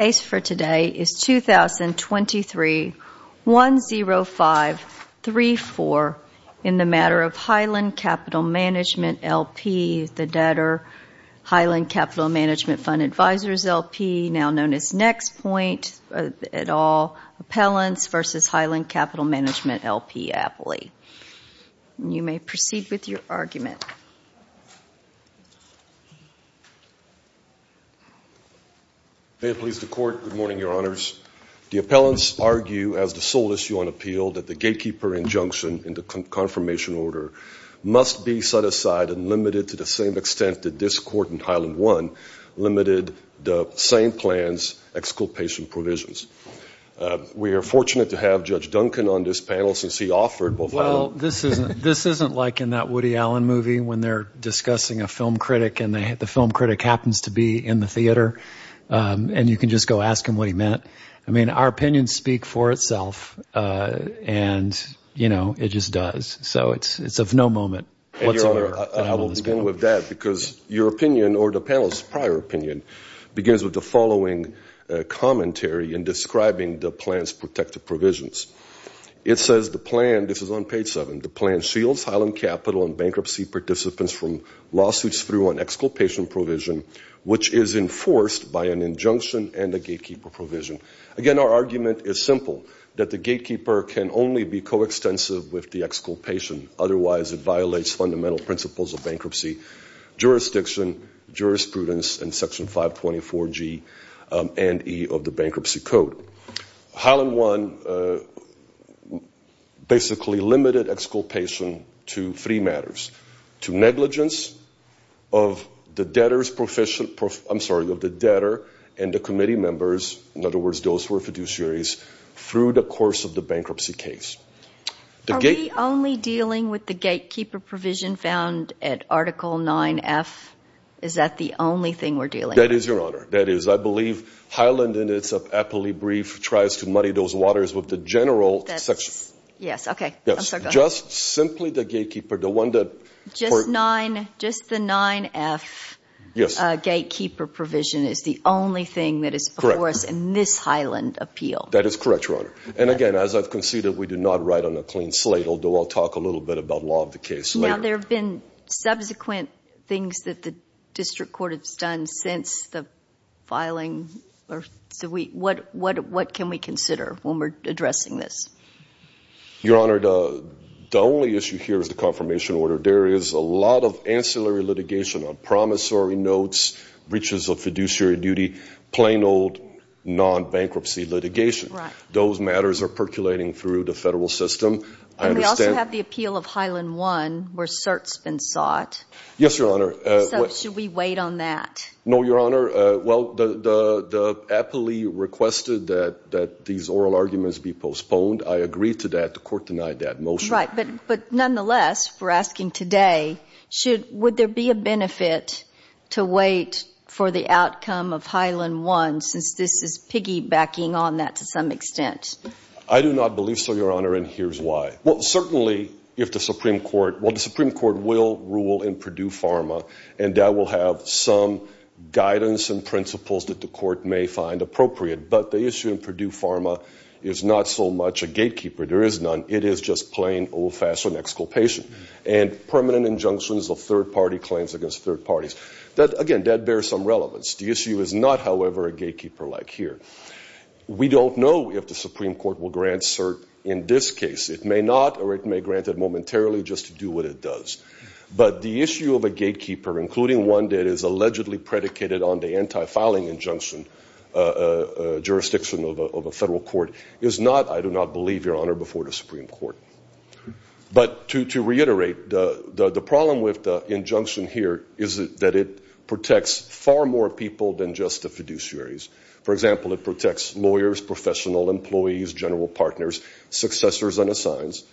2023-10534 in the matter of Highland Captl Mgmt L.P., the debtor, Highland Captl Mgmt Fund Advisors L.P., now known as Nexpoint et al, Appellants v. Highland Captl Mgmt L.P. Appley. You may proceed with your argument. May it please the Court, good morning, Your Honors. The appellants argue as the sole issue on appeal that the gatekeeper injunction in the confirmation order must be set aside and limited to the same extent that this Court in Highland 1 limited the same plan's exculpation provisions. We are fortunate to have Judge Duncan on this panel since he offered both Highland Captl Mgmt Fund and Highland Captl Mgmt Fund Advisors L.P. We are fortunate to have Judge Duncan on this panel since he offered both Highland Captl Mgmt Fund Advisors L.P. We are fortunate to have Judge Duncan on this panel since he offered both Highland Captl Mgmt Fund Advisors L.P. There are two articles that Highland Captl Mgmt Fund Advisors L.P. and Highland Captl Mgmt Fund Advisors L.P. both denounce the negligence of the debtor's profession, I'm sorry, of the debtor and the committee members, in other words those who are fiduciaries, through the course of the bankruptcy case. Are we only dealing with the gatekeeper provision found at Article IX.F.? Is that the only thing we're dealing with? That is, I believe Highland, in its appellee brief, tries to muddy those waters with the general section. Yes, okay. I'm sorry, go ahead. Just the IX.F. gatekeeper provision is the only thing that is before us in this Highland appeal. That is correct, Your Honor. And again, as I've conceded, we do not write on a clean slate, although I'll talk a little bit about law of the case later. Now, there have been subsequent things that the district court has done since the filing. What can we consider when we're addressing this? Your Honor, the only issue here is the confirmation order. There is a lot of ancillary litigation on promissory notes, breaches of fiduciary duty, plain old non-bankruptcy litigation. Those matters are percolating through the federal system. And we also have the appeal of Highland 1, where cert's been sought. Yes, Your Honor. So, should we wait on that? No, Your Honor. Well, the appellee requested that these oral arguments be postponed. I agree to that. The court denied that motion. Right, but nonetheless, we're asking today, would there be a benefit to wait for the outcome of Highland 1, since this is piggybacking on that to some extent? I do not believe so, Your Honor, and here's why. Well, certainly, if the Supreme Court, well, the Supreme Court will rule in Purdue Pharma, and that will have some guidance and principles that the court may find appropriate. But the issue in Purdue Pharma is not so much a gatekeeper, there is none, it is just plain old-fashioned exculpation. And permanent injunctions of third-party claims against third parties. Again, that bears some relevance. The issue is not, however, a gatekeeper like here. We don't know if the Supreme Court will grant cert in this case. It may not, or it may grant it momentarily just to do what it does. But the issue of a gatekeeper, including one that is allegedly predicated on the anti-filing injunction jurisdiction of a federal court, is not, I do not believe, Your Honor, before the Supreme Court. But to reiterate, the problem with the injunction here is that it protects far more people than just the fiduciaries. For example, it protects lawyers, professional employees, general partners, successors and assigns.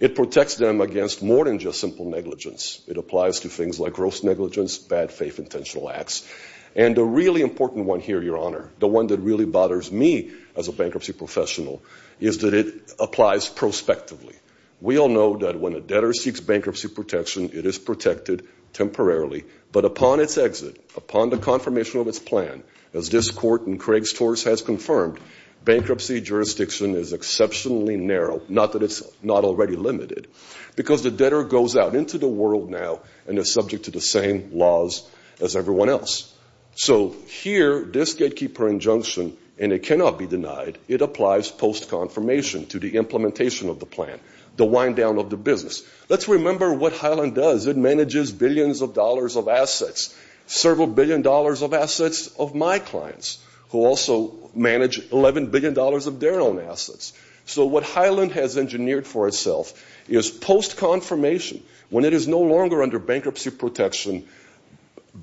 It protects them against more than just simple negligence. It applies to things like gross negligence, bad faith, intentional acts. And the really important one here, Your Honor, the one that really bothers me as a bankruptcy professional, is that it applies prospectively. We all know that when a debtor seeks bankruptcy protection, it is protected temporarily. But upon its exit, upon the confirmation of its plan, as this Court and Craig's Torus has confirmed, bankruptcy jurisdiction is exceptionally narrow, not that it's not already limited. Because the debtor goes out into the world now and is subject to the same laws as everyone else. So here, this gatekeeper injunction, and it cannot be denied, it applies post-confirmation to the implementation of the plan, the wind-down of the business. Let's remember what Highland does. It manages billions of dollars of assets, several billion dollars of assets of my clients, who also manage $11 billion of their own assets. So what Highland has engineered for itself is post-confirmation, when it is no longer under bankruptcy protection,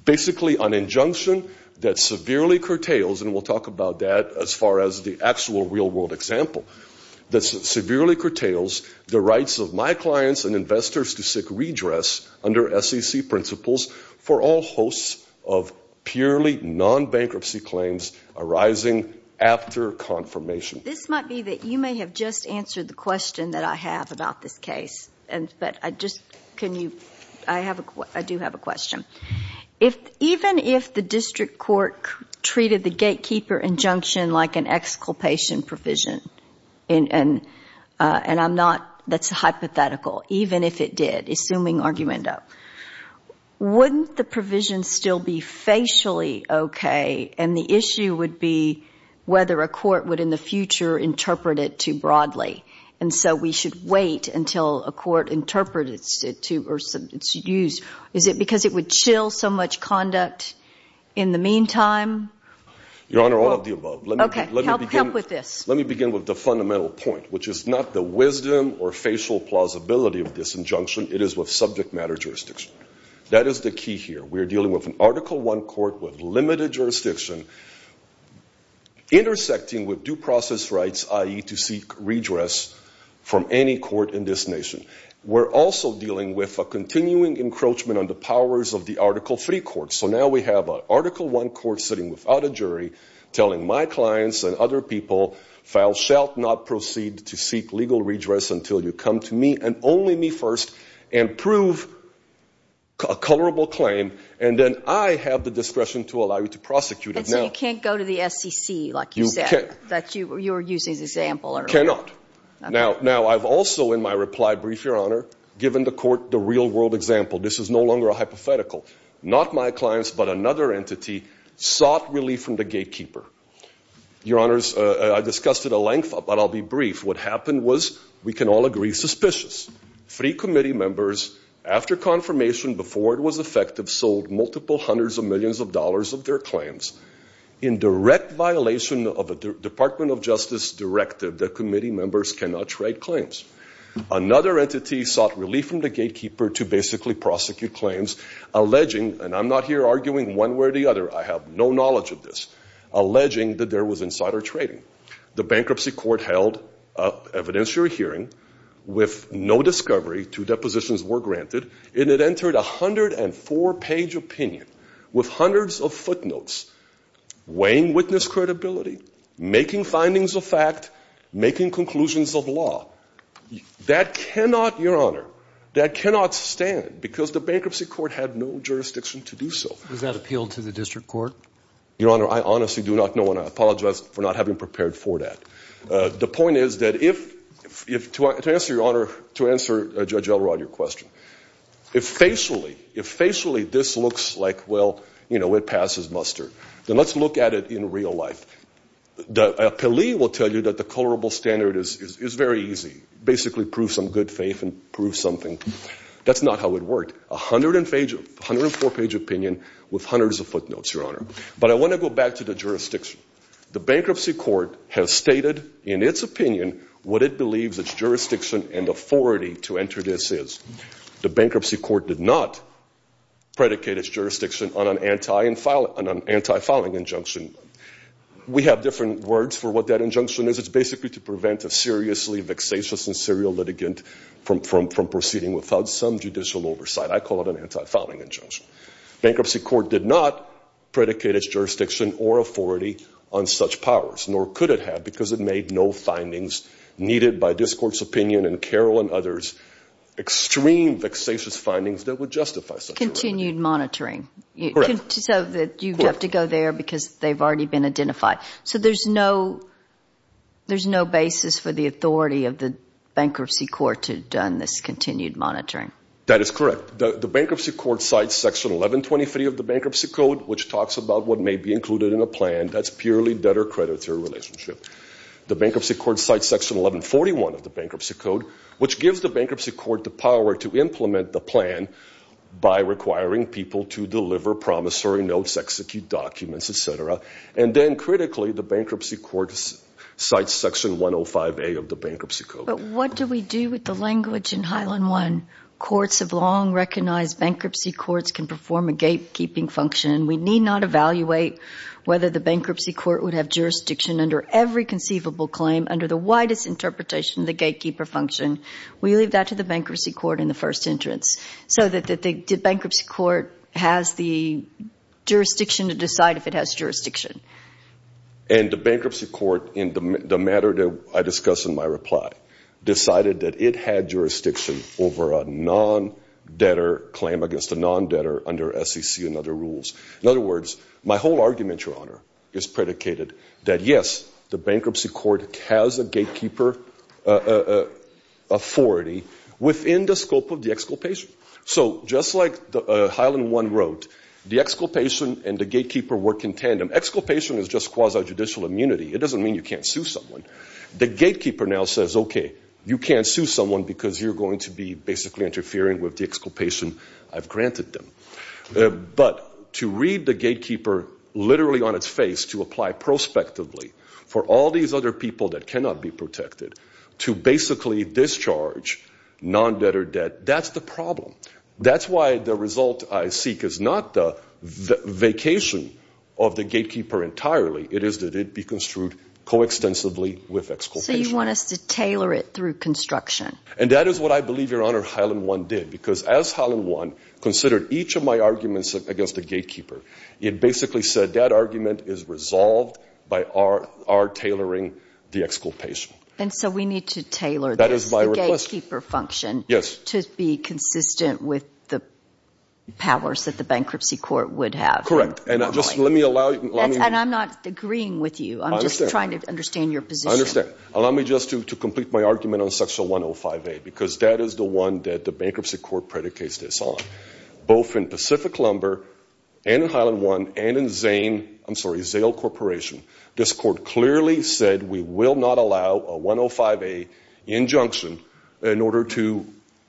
basically an injunction, that severely curtails, and we'll talk about that as far as the actual real-world example, that severely curtails the rights of my clients and investors to seek redress under SEC principles for all hosts of purely non-bankruptcy claims arising after confirmation. This might be that you may have just answered the question that I have about this case. But I just, can you, I do have a question. Even if the district court treated the gatekeeper injunction like an exculpation provision, and I'm not, that's hypothetical, even if it did, assuming argumento, wouldn't the provision still be facially okay, and the issue would be whether a court would in the future interpret it too broadly. And so we should wait until a court interprets it to, or it's used. Is it because it would chill so much conduct in the meantime? Your Honor, all of the above. Okay, help with this. Let me begin with the fundamental point, which is not the wisdom or facial plausibility of this injunction. It is with subject matter jurisdiction. That is the key here. We are dealing with an Article I court with limited jurisdiction, intersecting with due process rights, i.e., to seek redress from any court in this nation. We're also dealing with a continuing encroachment on the powers of the Article III courts. So now we have an Article I court sitting without a jury, telling my clients and other people, thou shalt not proceed to seek legal redress until you come to me, and only me first, and prove a colorable claim. And then I have the discretion to allow you to prosecute it. And so you can't go to the SEC, like you said, that you were using as an example earlier? Cannot. Now, I've also, in my reply brief, Your Honor, given the court the real-world example. This is no longer a hypothetical. Not my clients, but another entity sought relief from the gatekeeper. Your Honors, I discussed it at length, but I'll be brief. What happened was, we can all agree, suspicious. Three committee members, after confirmation, before it was effective, sold multiple hundreds of millions of dollars of their claims. In direct violation of a Department of Justice directive, the committee members cannot trade claims. Another entity sought relief from the gatekeeper to basically prosecute claims, alleging, and I'm not here arguing one way or the other, I have no knowledge of this, alleging that there was insider trading. The bankruptcy court held an evidentiary hearing with no discovery, two depositions were granted, and it entered a 104-page opinion with hundreds of footnotes, weighing witness credibility, making findings of fact, making conclusions of law. That cannot, Your Honor, that cannot stand, because the bankruptcy court had no jurisdiction to do so. Was that appealed to the district court? Your Honor, I honestly do not know, and I apologize for not having prepared for that. The point is that if, to answer, Your Honor, to answer Judge Elrod your question, if facially, if facially this looks like, well, you know, it passes muster, then let's look at it in real life. The appealee will tell you that the colorable standard is very easy, basically prove some good faith and prove something. That's not how it worked. A 104-page opinion with hundreds of footnotes, Your Honor. But I want to go back to the jurisdiction. The bankruptcy court has stated in its opinion what it believes its jurisdiction and authority to enter this is. The bankruptcy court did not predicate its jurisdiction on an anti-filing injunction. We have different words for what that injunction is. It's basically to prevent a seriously vexatious and serial litigant from proceeding without some judicial oversight. I call it an anti-filing injunction. Bankruptcy court did not predicate its jurisdiction or authority on such powers, nor could it have, because it made no findings needed by this Court's opinion and Carroll and others, extreme vexatious findings that would justify such an argument. Correct. So there's no basis for the authority of the bankruptcy court to have done this continued monitoring? That is correct. The bankruptcy court cites section 1123 of the Bankruptcy Code, which talks about what may be included in a plan. That's purely debtor-creditor relationship. The bankruptcy court cites section 1141 of the Bankruptcy Code, which gives the bankruptcy court the power to implement the plan by requiring people to deliver promissory notes, execute documents, et cetera. And then, critically, the bankruptcy court cites section 105A of the Bankruptcy Code. But what do we do with the language in Highland One? Courts have long recognized bankruptcy courts can perform a gatekeeping function. We need not evaluate whether the bankruptcy court would have jurisdiction under every conceivable claim under the widest interpretation of the gatekeeper function. We leave that to the bankruptcy court in the first entrance, so that the bankruptcy court has the jurisdiction to decide if it has jurisdiction. And the bankruptcy court, in the matter that I discuss in my reply, decided that it had jurisdiction over a non-debtor claim against a non-debtor under SEC and other rules. In other words, my whole argument, Your Honor, is predicated that, yes, the bankruptcy court has a gatekeeper authority within the scope of the exculpation. So just like Highland One wrote, the exculpation and the gatekeeper work in tandem. Exculpation is just quasi-judicial immunity. It doesn't mean you can't sue someone. The gatekeeper now says, okay, you can't sue someone because you're going to be basically interfering with the exculpation I've granted them. But to read the gatekeeper literally on its face, to apply prospectively for all these other people that cannot be protected, to basically discharge non-debtor debt, that's the problem. That's why the result I seek is not the vacation of the gatekeeper entirely. It is that it be construed coextensively with exculpation. So you want us to tailor it through construction. And that is what I believe, Your Honor, Highland One did. Because as Highland One considered each of my arguments against the gatekeeper, it basically said that argument is resolved by our tailoring the exculpation. And so we need to tailor the gatekeeper function to be consistent with the powers that the bankruptcy court would have. Correct. And I'm not agreeing with you. I'm just trying to understand your position. I understand. Allow me just to complete my argument on section 105A, because that is the one that the bankruptcy court predicates this on. Both in Pacific Lumber and in Highland One and in Zane, I'm sorry, Zale Corporation, this court clearly said we will not allow a 105A injunction in order to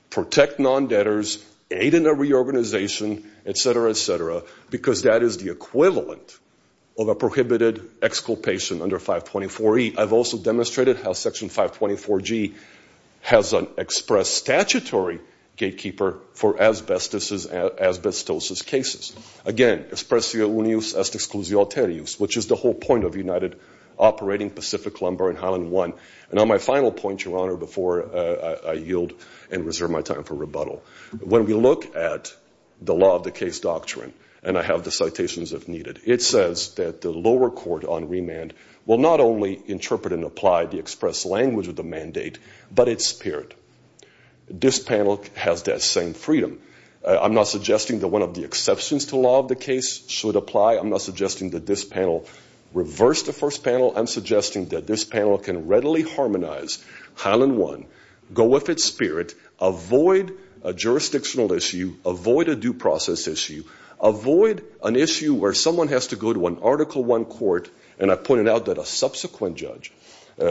protect non-debtors, aid in their reorganization, etc., etc., because that is the equivalent of a prohibited exculpation under 524E. And it also demonstrated how section 524G has an express statutory gatekeeper for asbestosis cases. Again, expressio unius est exclusio alterius, which is the whole point of United Operating Pacific Lumber and Highland One. And on my final point, Your Honor, before I yield and reserve my time for rebuttal, when we look at the law of the case doctrine, and I have the citations if needed, it says that the lower court on remand will not only interpret and apply the express language of the mandate, but its spirit. This panel has that same freedom. I'm not suggesting that one of the exceptions to the law of the case should apply. I'm not suggesting that this panel reverse the first panel. I'm suggesting that this panel can readily harmonize Highland One, go with its spirit, avoid a jurisdictional issue, avoid a due process issue, avoid an issue where someone has to go to an Article I court, and I pointed out that a subsequent judge,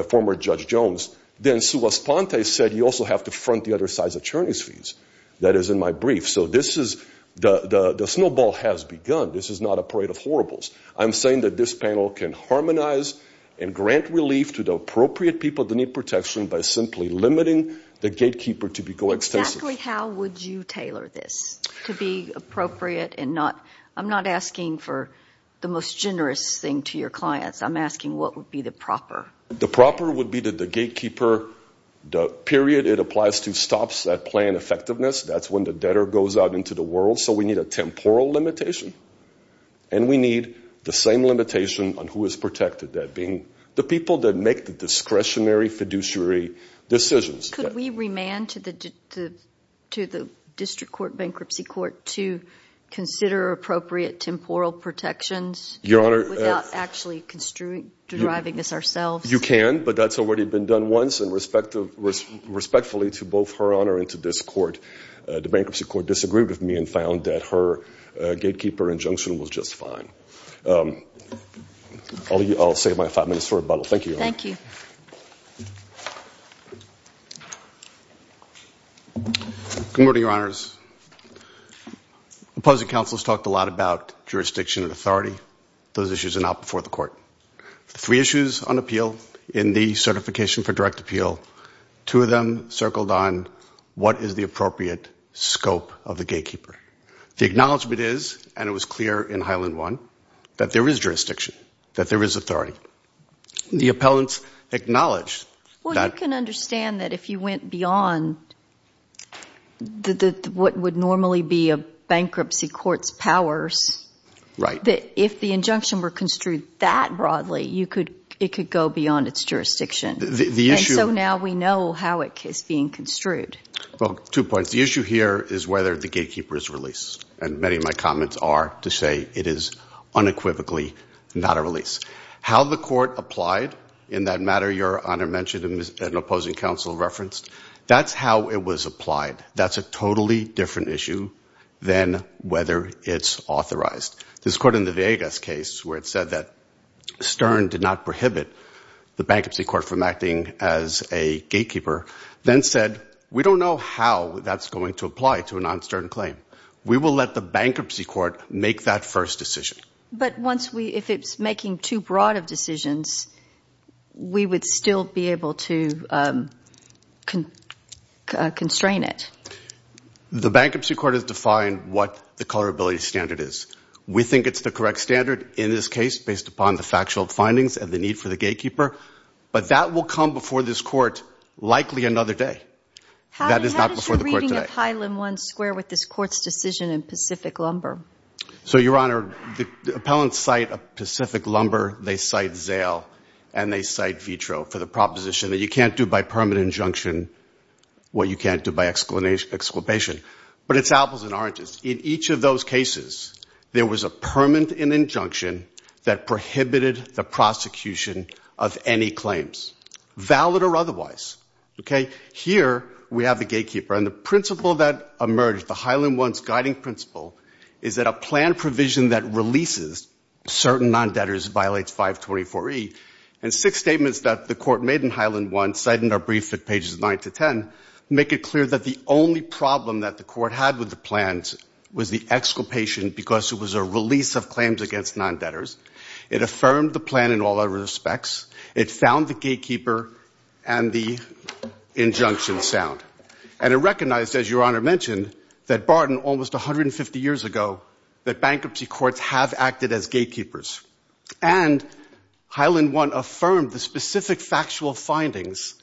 former Judge Jones, then Sua Sponte said you also have to front the other side's attorney's fees. That is in my brief. So this is, the snowball has begun. This is not a parade of horribles. I'm saying that this panel can harmonize and grant relief to the appropriate people that need protection by simply limiting the gatekeeper to be coextensive. Exactly how would you tailor this to be appropriate and not, I'm not asking for the most generous thing to your clients. I'm asking what would be the proper. The proper would be that the gatekeeper, the period it applies to stops that plan effectiveness. That's when the debtor goes out into the world. So we need a temporal limitation. And we need the same limitation on who is protected, that being the people that make the discretionary fiduciary decisions. Could we remand to the district court, bankruptcy court, to consider appropriate temporal protections without actually driving this ourselves? You can, but that's already been done once and respectfully to both her honor and to this court, the bankruptcy court disagreed with me and found that her gatekeeper injunction was just fine. I'll save my five minutes for rebuttal. Thank you. Good morning, your honors. Opposing counsel has talked a lot about jurisdiction and authority. Those issues are not before the court. Three issues on appeal in the certification for direct appeal. Two of them circled on what is the appropriate scope of the gatekeeper. The acknowledgment is, and it was clear in Highland one, that there is jurisdiction, that there is authority. The appellants acknowledged that. You can understand that if you went beyond what would normally be a bankruptcy court's powers, that if the injunction were construed that broadly, it could go beyond its jurisdiction. And so now we know how it is being construed. Two points. The issue here is whether the gatekeeper is released. And many of my comments are to say it is unequivocally not a release. How the court applied in that matter your honor mentioned and opposing counsel referenced, that's how it was applied. That's a totally different issue than whether it's authorized. This court in the Vegas case where it said that Stern did not prohibit the bankruptcy court from acting as a gatekeeper, then said we don't know how that's going to apply to a non-Stern claim. We will let the bankruptcy court make that first decision. But once we, if it's making too broad of decisions, we would still be able to constrain it. The bankruptcy court has defined what the colorability standard is. We think it's the correct standard in this case based upon the factual findings and the need for the gatekeeper. But that will come before this court likely another day. That is not before the court today. How does the reading of Highland One square with this court's decision in Pacific Lumber? So your honor, the appellants cite a Pacific Lumber, they cite Zale, and they cite Vitro for the proposition that you can't do by permanent injunction what you can't do by exclamation. But it's apples and oranges. In each of those cases there was a permanent injunction that prohibited the prosecution of any claims. Valid or otherwise. Here we have the gatekeeper, and the principle that emerged, the Highland One's guiding principle, is that a plan provision that releases certain non-debtors violates 524E. And six statements that the court made in Highland One, cited in our brief at pages 9 to 10, make it clear that the only problem that the court had with the plans was the exclamation because it was a release of claims against non-debtors. It affirmed the plan in all other respects. It found the gatekeeper and the injunction sound. And it recognized, as your honor mentioned, that Barton, almost 150 years ago, that bankruptcy courts have acted as gatekeepers. And Highland One affirmed the specific factual findings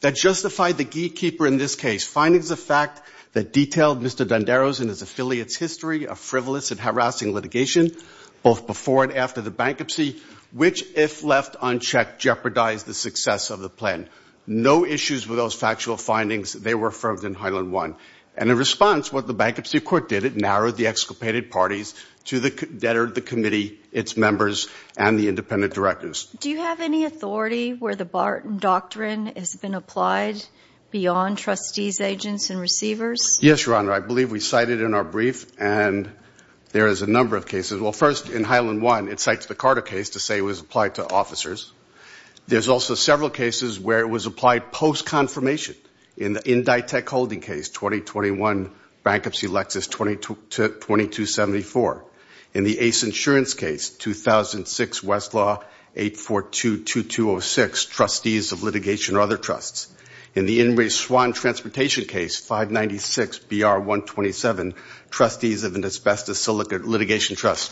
that justified the gatekeeper in this case. Findings of fact that detailed Mr. Donderos and his affiliates' history of frivolous and harassing litigation, both before and after the case. And in response to the bankruptcy, which, if left unchecked, jeopardized the success of the plan. No issues with those factual findings. They were affirmed in Highland One. And in response, what the bankruptcy court did, it narrowed the exculpated parties to the debtor, the committee, its members, and the independent directors. Do you have any authority where the Barton Doctrine has been applied beyond trustees, agents, and receivers? Yes, your honor. I believe we cited in our brief, and there is a number of cases. Well, first, in Highland One, it cites the Carter case to say it was applied to officers. There's also several cases where it was applied post-confirmation. In the Inditech holding case, 2021, Bankruptcy Lexus 2274. In the Ace Insurance case, 2006, Westlaw 842-2206, Trustees of Litigation or Other Trusts. In the Inree Swann Transportation case, 596-BR-127, Trustees of an Asbestos Litigation Trust.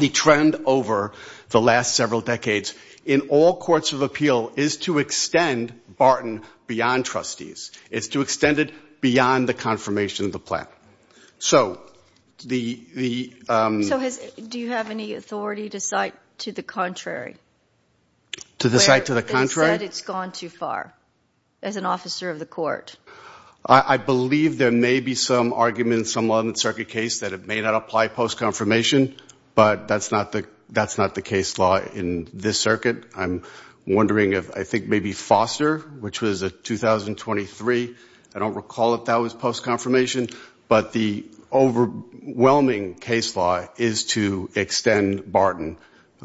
The trend over the last several decades in all courts of appeal is to extend Barton beyond trustees. It's to extend it beyond the confirmation of the plan. So do you have any authority to cite to the contrary? They said it's gone too far, as an officer of the court. I believe there may be some arguments, some law in the circuit case, that it may not apply post-confirmation, but that's not the case law in this circuit. I'm wondering if, I think maybe Foster, which was a 2023, I don't recall if that was post-confirmation, but the overwhelming case law is to extend Barton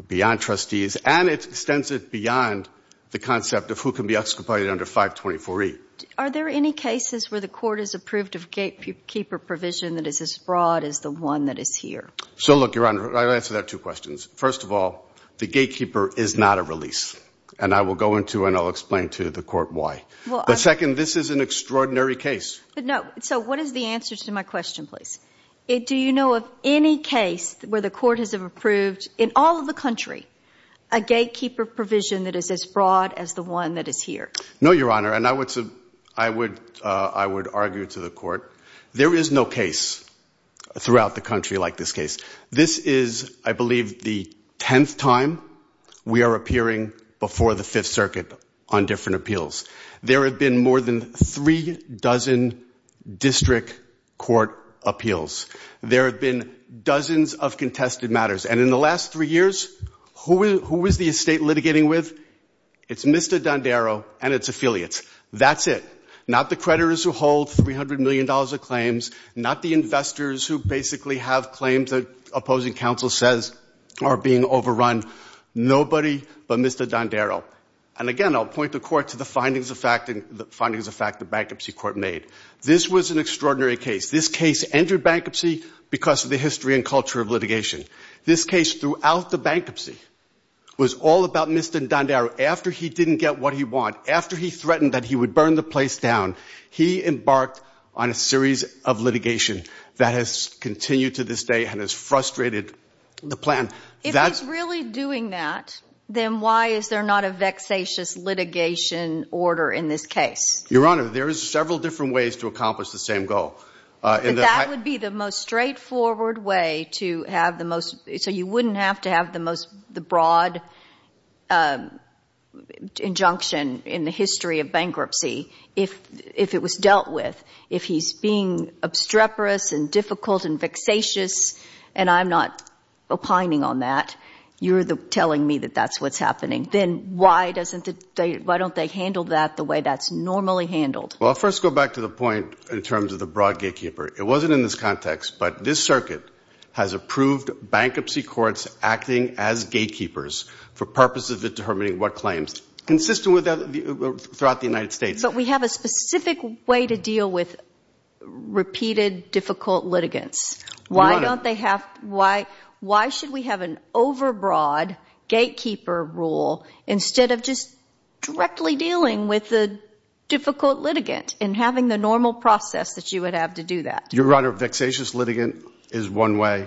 beyond trustees, and it extends it beyond the concept of who can be exculpated under 524E. Are there any cases where the court has approved of gatekeeper provision that is as broad as the one that is here? So look, Your Honor, I'll answer that two questions. First of all, the gatekeeper is not a release, and I will go into and I'll explain to the court why. But second, this is an extraordinary case. But no, so what is the answer to my question, please? Do you know of any case where the court has approved, in all of the country, a gatekeeper provision that is as broad as the one that is here? No, Your Honor, and I would argue to the court, there is no case throughout the country like this case. This is, I believe, the tenth time we are appearing before the Fifth Circuit on different appeals. There have been more than three dozen district court appeals. There have been dozens of contested matters. And in the last three years, who is the estate litigating with? It's Mr. Dondero and its affiliates. That's it. Not the creditors who hold $300 million of claims, not the investors who basically have claims that opposing counsel says are being overrun. Nobody but Mr. Dondero. And again, I'll point the court to the findings of fact the bankruptcy court made. This was an extraordinary case. This case entered bankruptcy because of the history and culture of litigation. This case throughout the bankruptcy was all about Mr. Dondero. After he didn't get what he wanted, after he threatened that he would burn the place down, he embarked on a series of litigation that has continued to this day and has frustrated the plan. If he's really doing that, then why is there not a vexatious litigation order in this case? Your Honor, there is several different ways to accomplish the same goal. But that would be the most straightforward way to have the most, so you wouldn't have to have the most, the broad, injunction in the history of bankruptcy if it was dealt with. If he's being obstreperous and difficult and vexatious and I'm not opining on that, you're telling me that that's what's happening. Then why don't they handle that the way that's normally handled? Well, I'll first go back to the point in terms of the broad gatekeeper. It wasn't in this context, but this circuit has approved bankruptcy courts acting as gatekeepers for purposes of determining what claims, consistent throughout the United States. But we have a specific way to deal with repeated difficult litigants. Your Honor. Why should we have an overbroad gatekeeper rule instead of just directly dealing with the difficult litigant and having the normal process that you would have to do that? Your Honor, vexatious litigant is one way.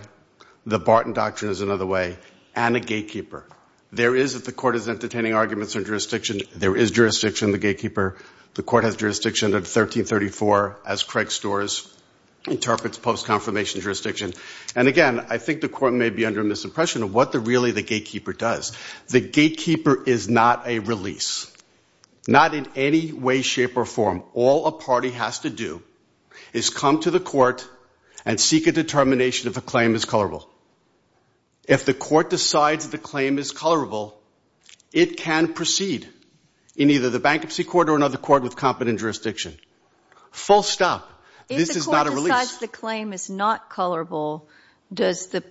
The Barton Doctrine is another way. And a gatekeeper. There is, if the court is entertaining arguments or jurisdiction, there is jurisdiction in the gatekeeper. The court has jurisdiction at 1334 as Craig Storrs interprets post-confirmation jurisdiction. And again, I think the court may be under a misimpression of what really the gatekeeper does. The gatekeeper is not a release. Not in any way, shape or form. All a party has to do is come to the court and seek a determination if a claim is colorable. If the court decides the claim is colorable, it can proceed in either the bankruptcy court or another court with competent jurisdiction. Full stop. This is not a release. If the court decides the claim is not colorable, does the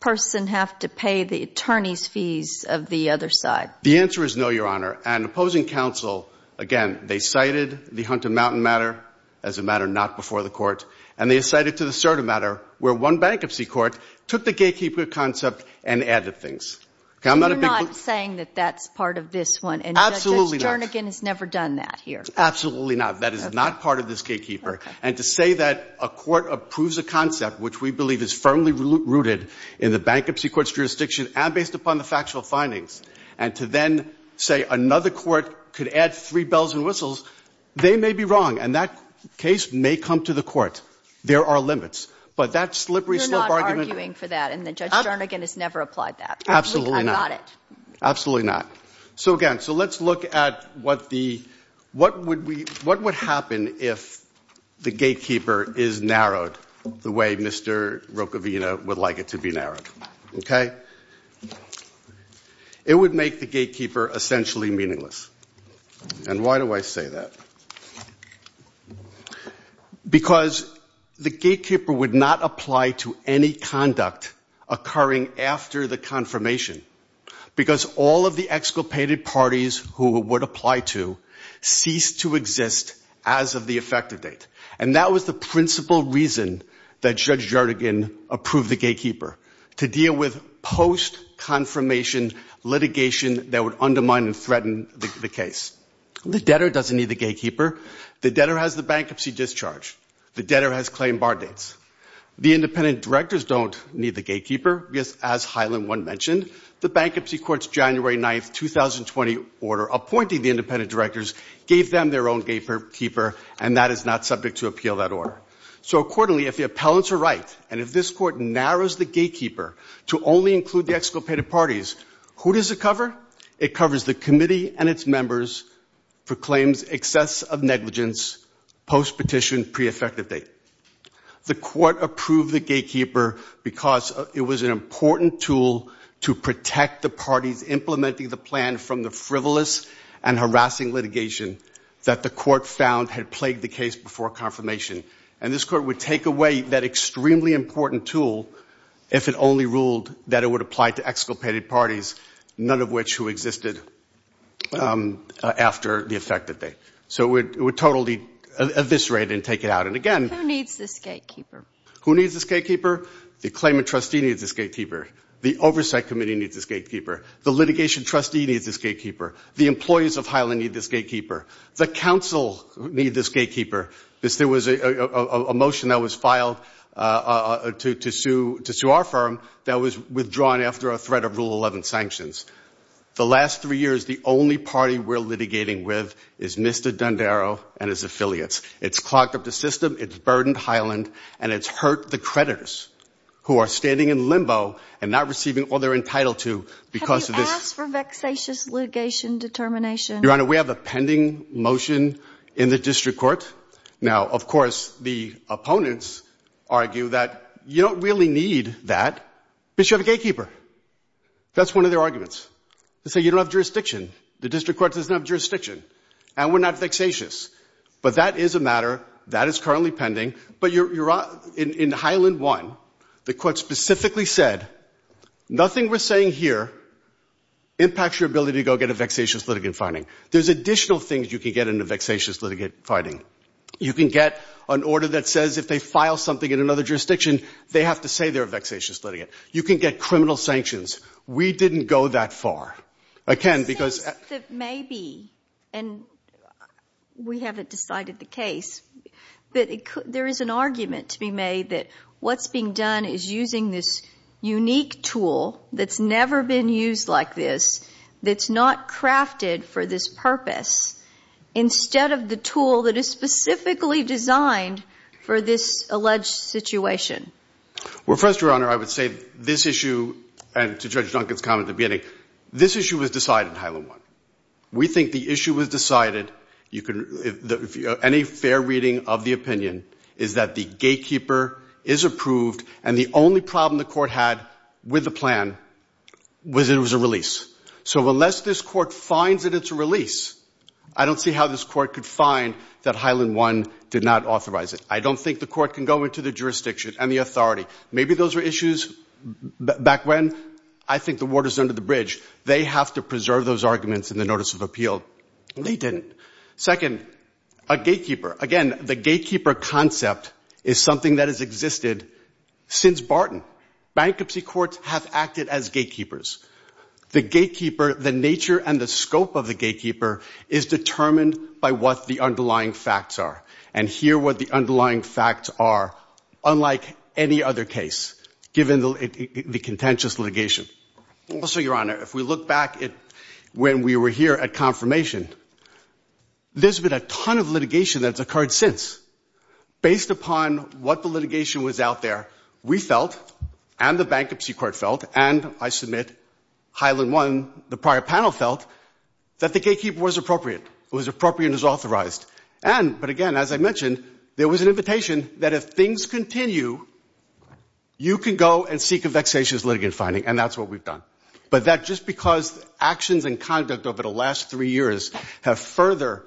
person have to pay the attorney's fees of the other side? The answer is no, Your Honor. And opposing counsel, again, they cited the Hunter Mountain matter as a matter not before the court. And they cited the Cerda matter where one bankruptcy court took the gatekeeper concept and added things. You're not saying that that's part of this one. Absolutely not. Judge Jarnagan has never done that here. Absolutely not. That is not part of this gatekeeper. And to say that a court approves a concept which we believe is firmly rooted in the bankruptcy court's jurisdiction and based upon the factual findings, and to then say another court could add three bells and whistles, they may be wrong. And that case may come to the court. There are limits. You're not arguing for that. And Judge Jarnagan has never applied that. Absolutely not. Absolutely not. So, again, let's look at what would happen if the gatekeeper is narrowed the way Mr. Rocavina would like it to be narrowed. It would make the gatekeeper essentially meaningless. And why do I say that? Because the gatekeeper would not apply to any conduct occurring after the confirmation. Because all of the exculpated parties who it would apply to ceased to exist as of the effective date. And that was the principal reason that Judge Jarnagan approved the gatekeeper, to deal with post-confirmation litigation that would undermine and threaten the case. The debtor doesn't need the gatekeeper. The debtor has the bankruptcy discharge. The debtor has claim bar dates. The independent directors don't need the gatekeeper. As Highland 1 mentioned, the bankruptcy court's January 9, 2020 order appointing the independent directors gave them their own gatekeeper, and that is not subject to appeal that order. So accordingly, if the appellants are right, and if this court narrows the gatekeeper to only include the exculpated parties, who does it cover? It covers the committee and its members, proclaims excess of negligence, post-petition pre-effective date. The court approved the gatekeeper because it was an important tool to protect the parties implementing the plan from the frivolous and harassing litigation that the court found had plagued the case before confirmation. And this court would take away that extremely important tool if it only ruled that it would apply to exculpated parties, none of which would apply. None of which who existed after the effective date. So it would totally eviscerate and take it out. And again, who needs this gatekeeper? The claimant trustee needs this gatekeeper. The oversight committee needs this gatekeeper. The litigation trustee needs this gatekeeper. The employees of Highland need this gatekeeper. The counsel need this gatekeeper. There was a motion that was filed to sue our firm that was withdrawn after a threat of Rule 11 sanctions. The last three years, the only party we're litigating with is Mr. Dundaro and his affiliates. It's clogged up the system, it's burdened Highland, and it's hurt the creditors who are standing in limbo and not receiving all they're entitled to because of this. Have you asked for vexatious litigation determination? Your Honor, we have a pending motion in the district court. Now, of course, the opponents argue that you don't really need that because you have a gatekeeper. That's one of their arguments. They say you don't have jurisdiction. The district court doesn't have jurisdiction. And we're not vexatious. But that is a matter. That is currently pending. But in Highland 1, the court specifically said, nothing we're saying here impacts your ability to go get a vexatious litigant finding. There's additional things you can get in a vexatious litigant finding. You can get an order that says if they file something in another jurisdiction, they have to say they're a vexatious litigant. You can get criminal sanctions. We didn't go that far. Again, because we haven't decided the case. But there is an argument to be made that what's being done is using this unique tool that's never been used like this, that's not crafted for this purpose, instead of the tool that is supposed to be used by the district court. It's specifically designed for this alleged situation. Well, first, Your Honor, I would say this issue, and to Judge Duncan's comment at the beginning, this issue was decided in Highland 1. We think the issue was decided. Any fair reading of the opinion is that the gatekeeper is approved. And the only problem the court had with the plan was it was a release. So unless this court finds that it's a release, I don't see how this court could find that Highland 1 did not authorize it. I don't think the court can go into the jurisdiction and the authority. Maybe those were issues back when I think the water's under the bridge. They have to preserve those arguments in the notice of appeal. They didn't. Second, a gatekeeper. Again, the gatekeeper concept is something that has existed since Barton. Bankruptcy courts have acted as gatekeepers. The nature and the scope of the gatekeeper is determined by what the underlying facts are. And here what the underlying facts are, unlike any other case, given the contentious litigation. Also, Your Honor, if we look back at when we were here at confirmation, there's been a ton of litigation that's occurred since. Based upon what the litigation was out there, we felt, and the bankruptcy court felt, and I submit Highland 1, the prior panel felt, that the gatekeeper was appropriate. It was appropriate and it was authorized. And, but again, as I mentioned, there was an invitation that if things continue, you can go and seek a vexatious litigant finding. And that's what we've done. But that just because actions and conduct over the last three years have further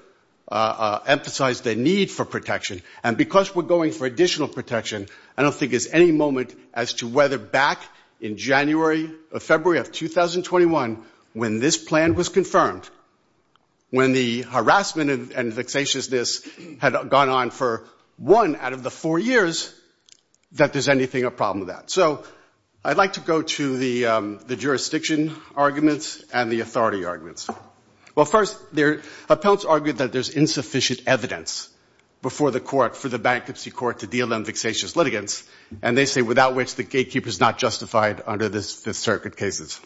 emphasized a need for protection. And because we're going for additional protection, I don't think there's any moment as to whether back in January or February of 2021, when this plan was confirmed, when the harassment and vexatiousness had gone on for one out of the four years, that there's anything a problem with that. So I'd like to go to the jurisdiction arguments and the authority arguments. Well, first, the appellants argued that there's insufficient evidence before the court for the bankruptcy court to deal in vexatious litigants. And they say without which the gatekeeper is not justified under the Fifth Circuit cases.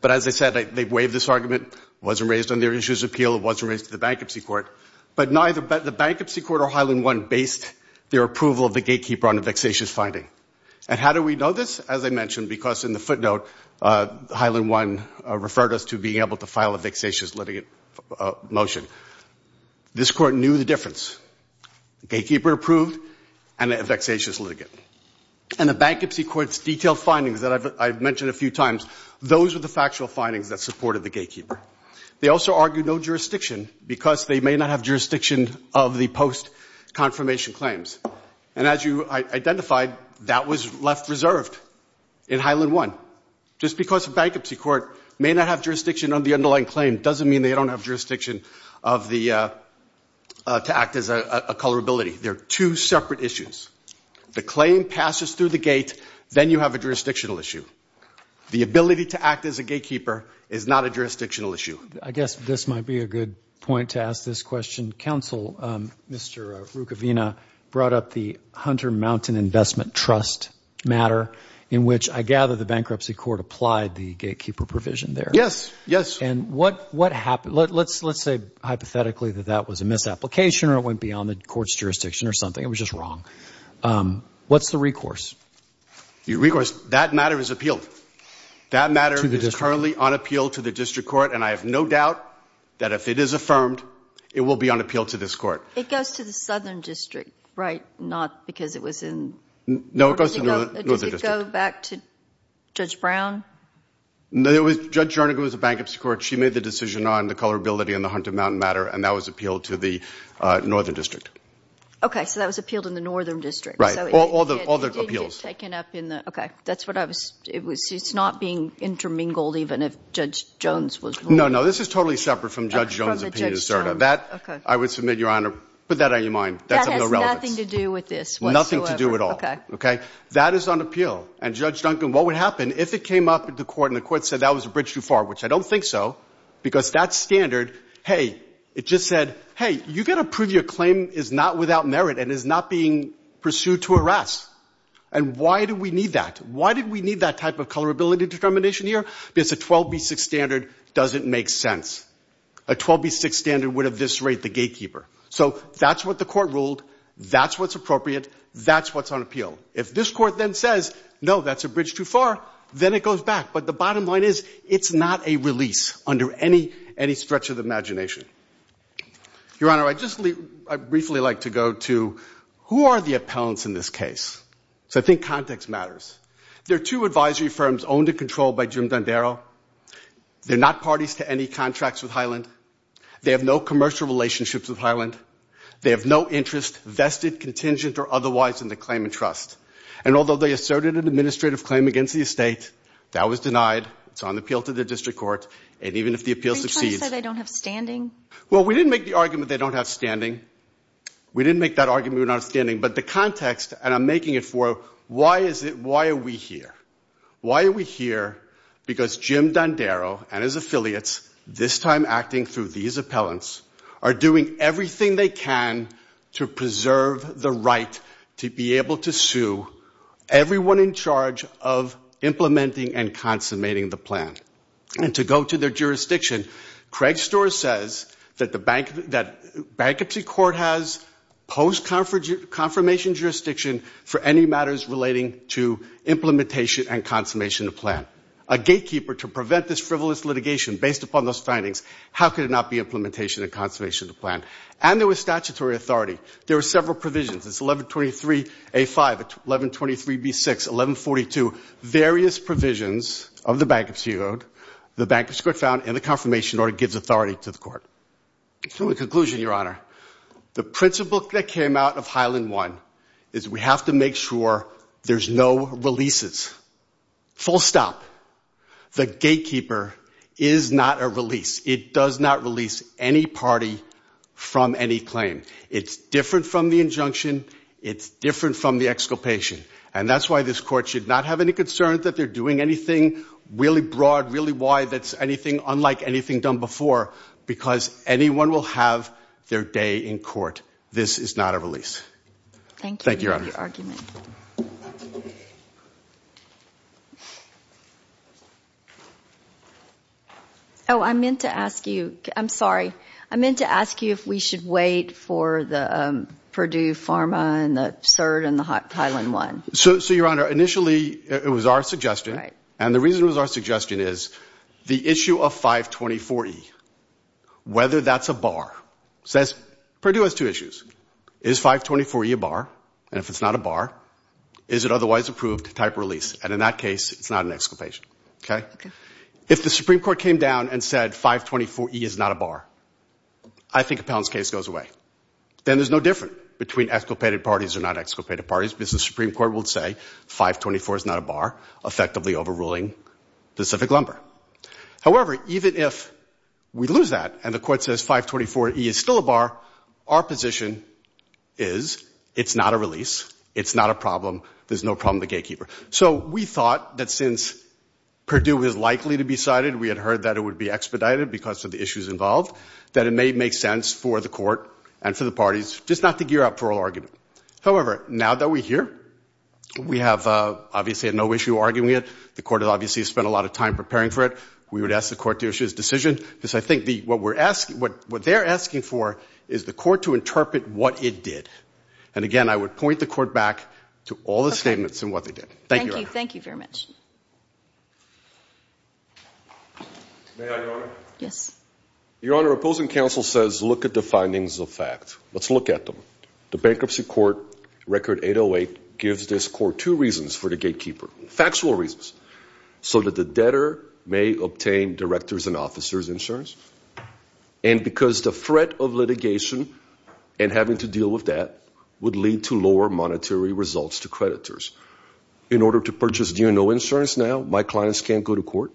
But as I said, they waived this argument. It wasn't raised on their issues of appeal. It wasn't raised to the bankruptcy court. But neither the bankruptcy court or Highland 1 based their approval of the gatekeeper on a vexatious finding. And how do we know this? As I mentioned, because in the footnote, Highland 1 referred us to being able to file a vexatious litigant motion. This court knew the difference. Gatekeeper approved and a vexatious litigant. And the bankruptcy court's detailed findings that I've mentioned a few times, those were the factual findings that supported the gatekeeper. They also argued no jurisdiction because they may not have jurisdiction of the post-confirmation claims. And as you identified, that was left reserved in Highland 1. Just because a bankruptcy court may not have jurisdiction on the underlying claim doesn't mean they don't have jurisdiction to act as a colorability. They're two separate issues. The claim passes through the gate. Then you have a jurisdictional issue. The ability to act as a gatekeeper is not a jurisdictional issue. I guess this might be a good point to ask this question. Counsel, Mr. Rukavina, brought up the Hunter Mountain Investment Trust matter in which I gather the bankruptcy court applied the gatekeeper provision there. Yes, yes. And what happened? Let's say hypothetically that that was a misapplication or it went beyond the court's jurisdiction or something. It was just wrong. What's the recourse? The recourse, that matter is appealed. That matter is currently on appeal to the district court, and I have no doubt that if it is affirmed, it will be on appeal to this court. It goes to the southern district, right? Not because it was in? No, it goes to the northern district. Does it go back to Judge Brown? No, Judge Jernigan was the bankruptcy court. She made the decision on the colorability and the Hunter Mountain matter, and that was appealed to the northern district. Okay, so that was appealed in the northern district. Right, all the appeals. It's not being intermingled even if Judge Jones was ruling. No, no, this is totally separate from Judge Jones' opinion. That, I would submit, Your Honor, put that on your mind. That has nothing to do with this whatsoever. Nothing to do at all. That is on appeal, and Judge Duncan, what would happen if it came up at the court and the court said that was a bridge too far, which I don't think so, because that standard, hey, it just said, hey, you've got to prove your claim is not without merit and is not being pursued to arrest. And why do we need that? Why did we need that type of colorability determination here? Because a 12B6 standard doesn't make sense. A 12B6 standard would eviscerate the gatekeeper. So that's what the court ruled, that's what's appropriate, that's what's on appeal. If this court then says, no, that's a bridge too far, then it goes back. But the bottom line is, it's not a release under any stretch of the imagination. Your Honor, I'd just briefly like to go to, who are the appellants in this case? So I think context matters. There are two advisory firms owned and controlled by Jim Dondero. They're not parties to any contracts with Highland. They have no commercial relationships with Highland. They have no interest, vested, contingent, or otherwise, in the claimant trust. And although they asserted an administrative claim against the estate, that was denied. It's on appeal to the district court. And even if the appeal succeeds. We didn't make the argument they don't have standing. But the context, and I'm making it for, why are we here? Why are we here? Because Jim Dondero and his affiliates, this time acting through these appellants, are doing everything they can to preserve the right to be able to sue everyone in charge of implementing and consummating the plan. And to go to their jurisdiction, Craig Storer says that the bankruptcy court has post-confirmation jurisdiction for any matters relating to implementation and consummation of the plan. A gatekeeper to prevent this frivolous litigation based upon those findings. How could it not be implementation and consummation of the plan? And there was statutory authority. There were several provisions. It's 1123A5, 1123B6, 1142. Various provisions of the bankruptcy code, the bankruptcy court found, and the confirmation order gives authority to the court. So in conclusion, Your Honor, the principle that came out of Highland 1 is we have to make sure there's no releases. Full stop. The gatekeeper is not a release. It does not release any party from any claim. It's different from the injunction. It's different from the exculpation. And that's why this court should not have any concern that they're doing anything really broad, really wide, that's anything unlike anything done before, because anyone will have their day in court. This is not a release. Thank you, Your Honor. I'm sorry. I meant to ask you if we should wait for the Purdue Pharma and the CERT and the Highland 1. So, Your Honor, initially it was our suggestion, and the reason it was our suggestion is the issue of 524E, whether that's a bar. Purdue has two issues. Is 524E a bar? And if it's not a bar, is it otherwise approved to type release? And in that case, it's not an exculpation. If the Supreme Court came down and said 524E is not a bar, I think Appellant's case goes away. Then there's no difference between exculpated parties or not exculpated parties, because the Supreme Court will say 524 is not a bar, effectively overruling Pacific Lumber. However, even if we lose that and the court says 524E is still a bar, our position is it's not a release, it's not a problem, there's no problem with the gatekeeper. So we thought that since Purdue is likely to be cited, we had heard that it would be expedited because of the issues involved, that it may make sense for the court and for the parties just not to gear up for an argument. However, now that we're here, we have obviously had no issue arguing it. The court has obviously spent a lot of time preparing for it. We would ask the court to issue its decision, because I think what they're asking for is the court to interpret what it did. And again, I would point the court back to all the statements and what they did. Thank you, Your Honor. May I, Your Honor? Your Honor, opposing counsel says look at the findings of fact. Let's look at them. The Bankruptcy Court Record 808 gives this court two reasons for the gatekeeper. Factual reasons. So that the debtor may obtain director's and officer's insurance, and because the threat of litigation and having to deal with that would lead to lower monetary results to creditors. In order to purchase DNO insurance now, my clients can't go to court?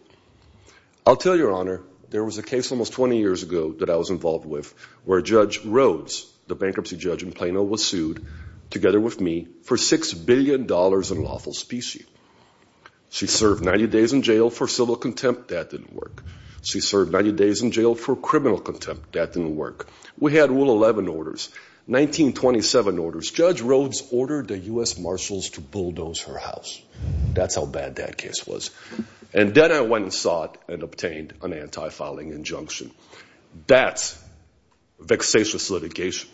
I'll tell you, Your Honor, there was a case almost 20 years ago that I was involved with where Judge Rhodes, the bankruptcy judge in Plano, was sued, together with me, for $6 billion in lawful specie. She served 90 days in jail for civil contempt. That didn't work. She served 90 days in jail for criminal contempt. That didn't work. We had Rule 11 orders, 1927 orders. Judge Rhodes ordered the U.S. Marshals to bulldoze her house. That's how bad that case was. And then I went and sought and obtained an anti-filing injunction. That's vexatious litigation.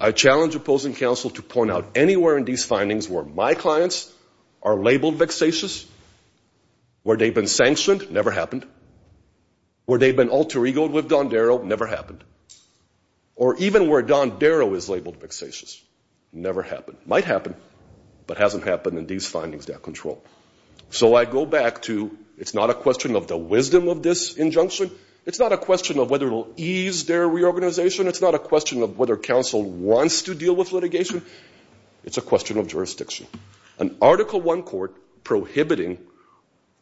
I challenge opposing counsel to point out anywhere in these findings where my clients are labeled vexatious, where they've been sanctioned, never happened. Where they've been alter egoed with Don Darrow, never happened. Or even where Don Darrow is labeled vexatious, never happened. Might happen, but hasn't happened in these findings that I control. So I go back to, it's not a question of the wisdom of this injunction. It's not a question of whether it will ease their reorganization. It's not a question of whether counsel wants to deal with litigation. It's a question of jurisdiction. An Article I court prohibiting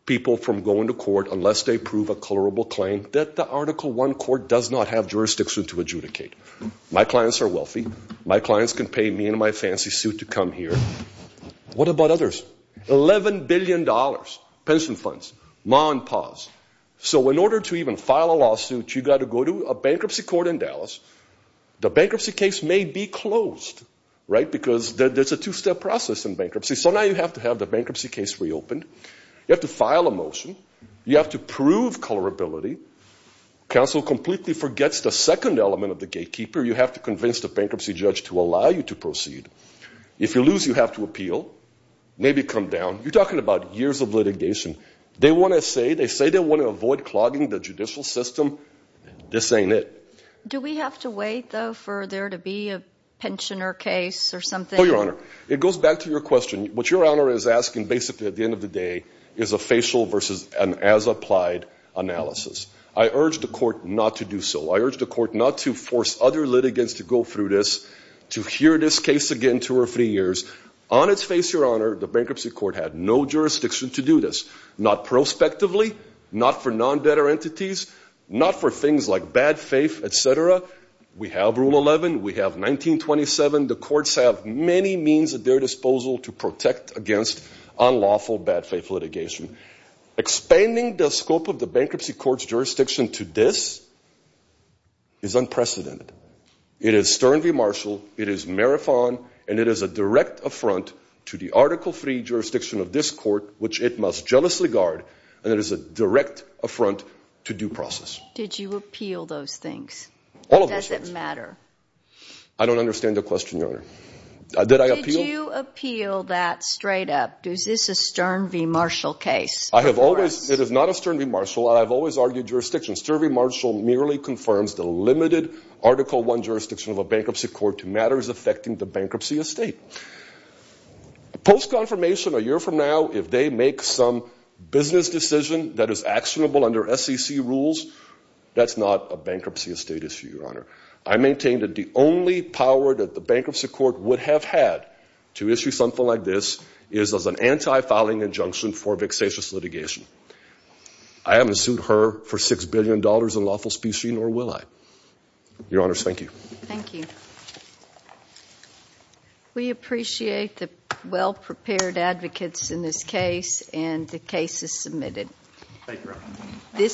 people from going to court unless they prove a colorable claim that the Article I court does not have jurisdiction to adjudicate. My clients are wealthy. My clients can pay me and my fancy suit to come here. What about others? $11 billion pension funds. So in order to even file a lawsuit, you've got to go to a bankruptcy court in Dallas. The bankruptcy case may be closed because there's a two-step process in bankruptcy. So now you have to have the bankruptcy case reopened. You have to file a motion. You have to prove colorability. Counsel completely forgets the second element of the gatekeeper. You have to convince the bankruptcy judge to allow you to proceed. If you lose, you have to appeal, maybe come down. You're talking about years of litigation. They want to say they want to avoid clogging the judicial system. This ain't it. Do we have to wait, though, for there to be a pensioner case or something? No, Your Honor. It goes back to your question. What Your Honor is asking basically at the end of the day is a facial versus an as-applied analysis. I urge the court not to do so. I urge the court not to force other litigants to go through this, to hear this case again two or three years. On its face, Your Honor, the bankruptcy court had no jurisdiction to do this, not prospectively, not for non-debtor entities, not for things like bad faith, et cetera. We have Rule 11. We have 1927. The courts have many means at their disposal to protect against unlawful bad faith litigation. Expanding the scope of the bankruptcy court's jurisdiction to this is unprecedented. It is stern v. Marshall. It is marathon, and it is a direct affront to the Article III jurisdiction of this court, which it must jealously guard, and it is a direct affront to due process. Did you appeal those things? All of those things. Does it matter? I don't understand the question, Your Honor. Did I appeal? Did you appeal that straight up? Is this a stern v. Marshall case? It is not a stern v. Marshall. I have always argued jurisdiction. Stern v. Marshall merely confirms the limited Article I jurisdiction of a bankruptcy court to matters affecting the bankruptcy estate. Post-confirmation a year from now, if they make some business decision that is actionable under SEC rules, that's not a bankruptcy estate issue, Your Honor. I maintain that the only power that the bankruptcy court would have had to issue something like this is as an anti-filing injunction for vexatious litigation. I haven't sued her for $6 billion in lawful species, nor will I. Your Honor, thank you. Thank you. We appreciate the well-prepared advocates in this case, and the case is submitted. Thank you, Your Honor.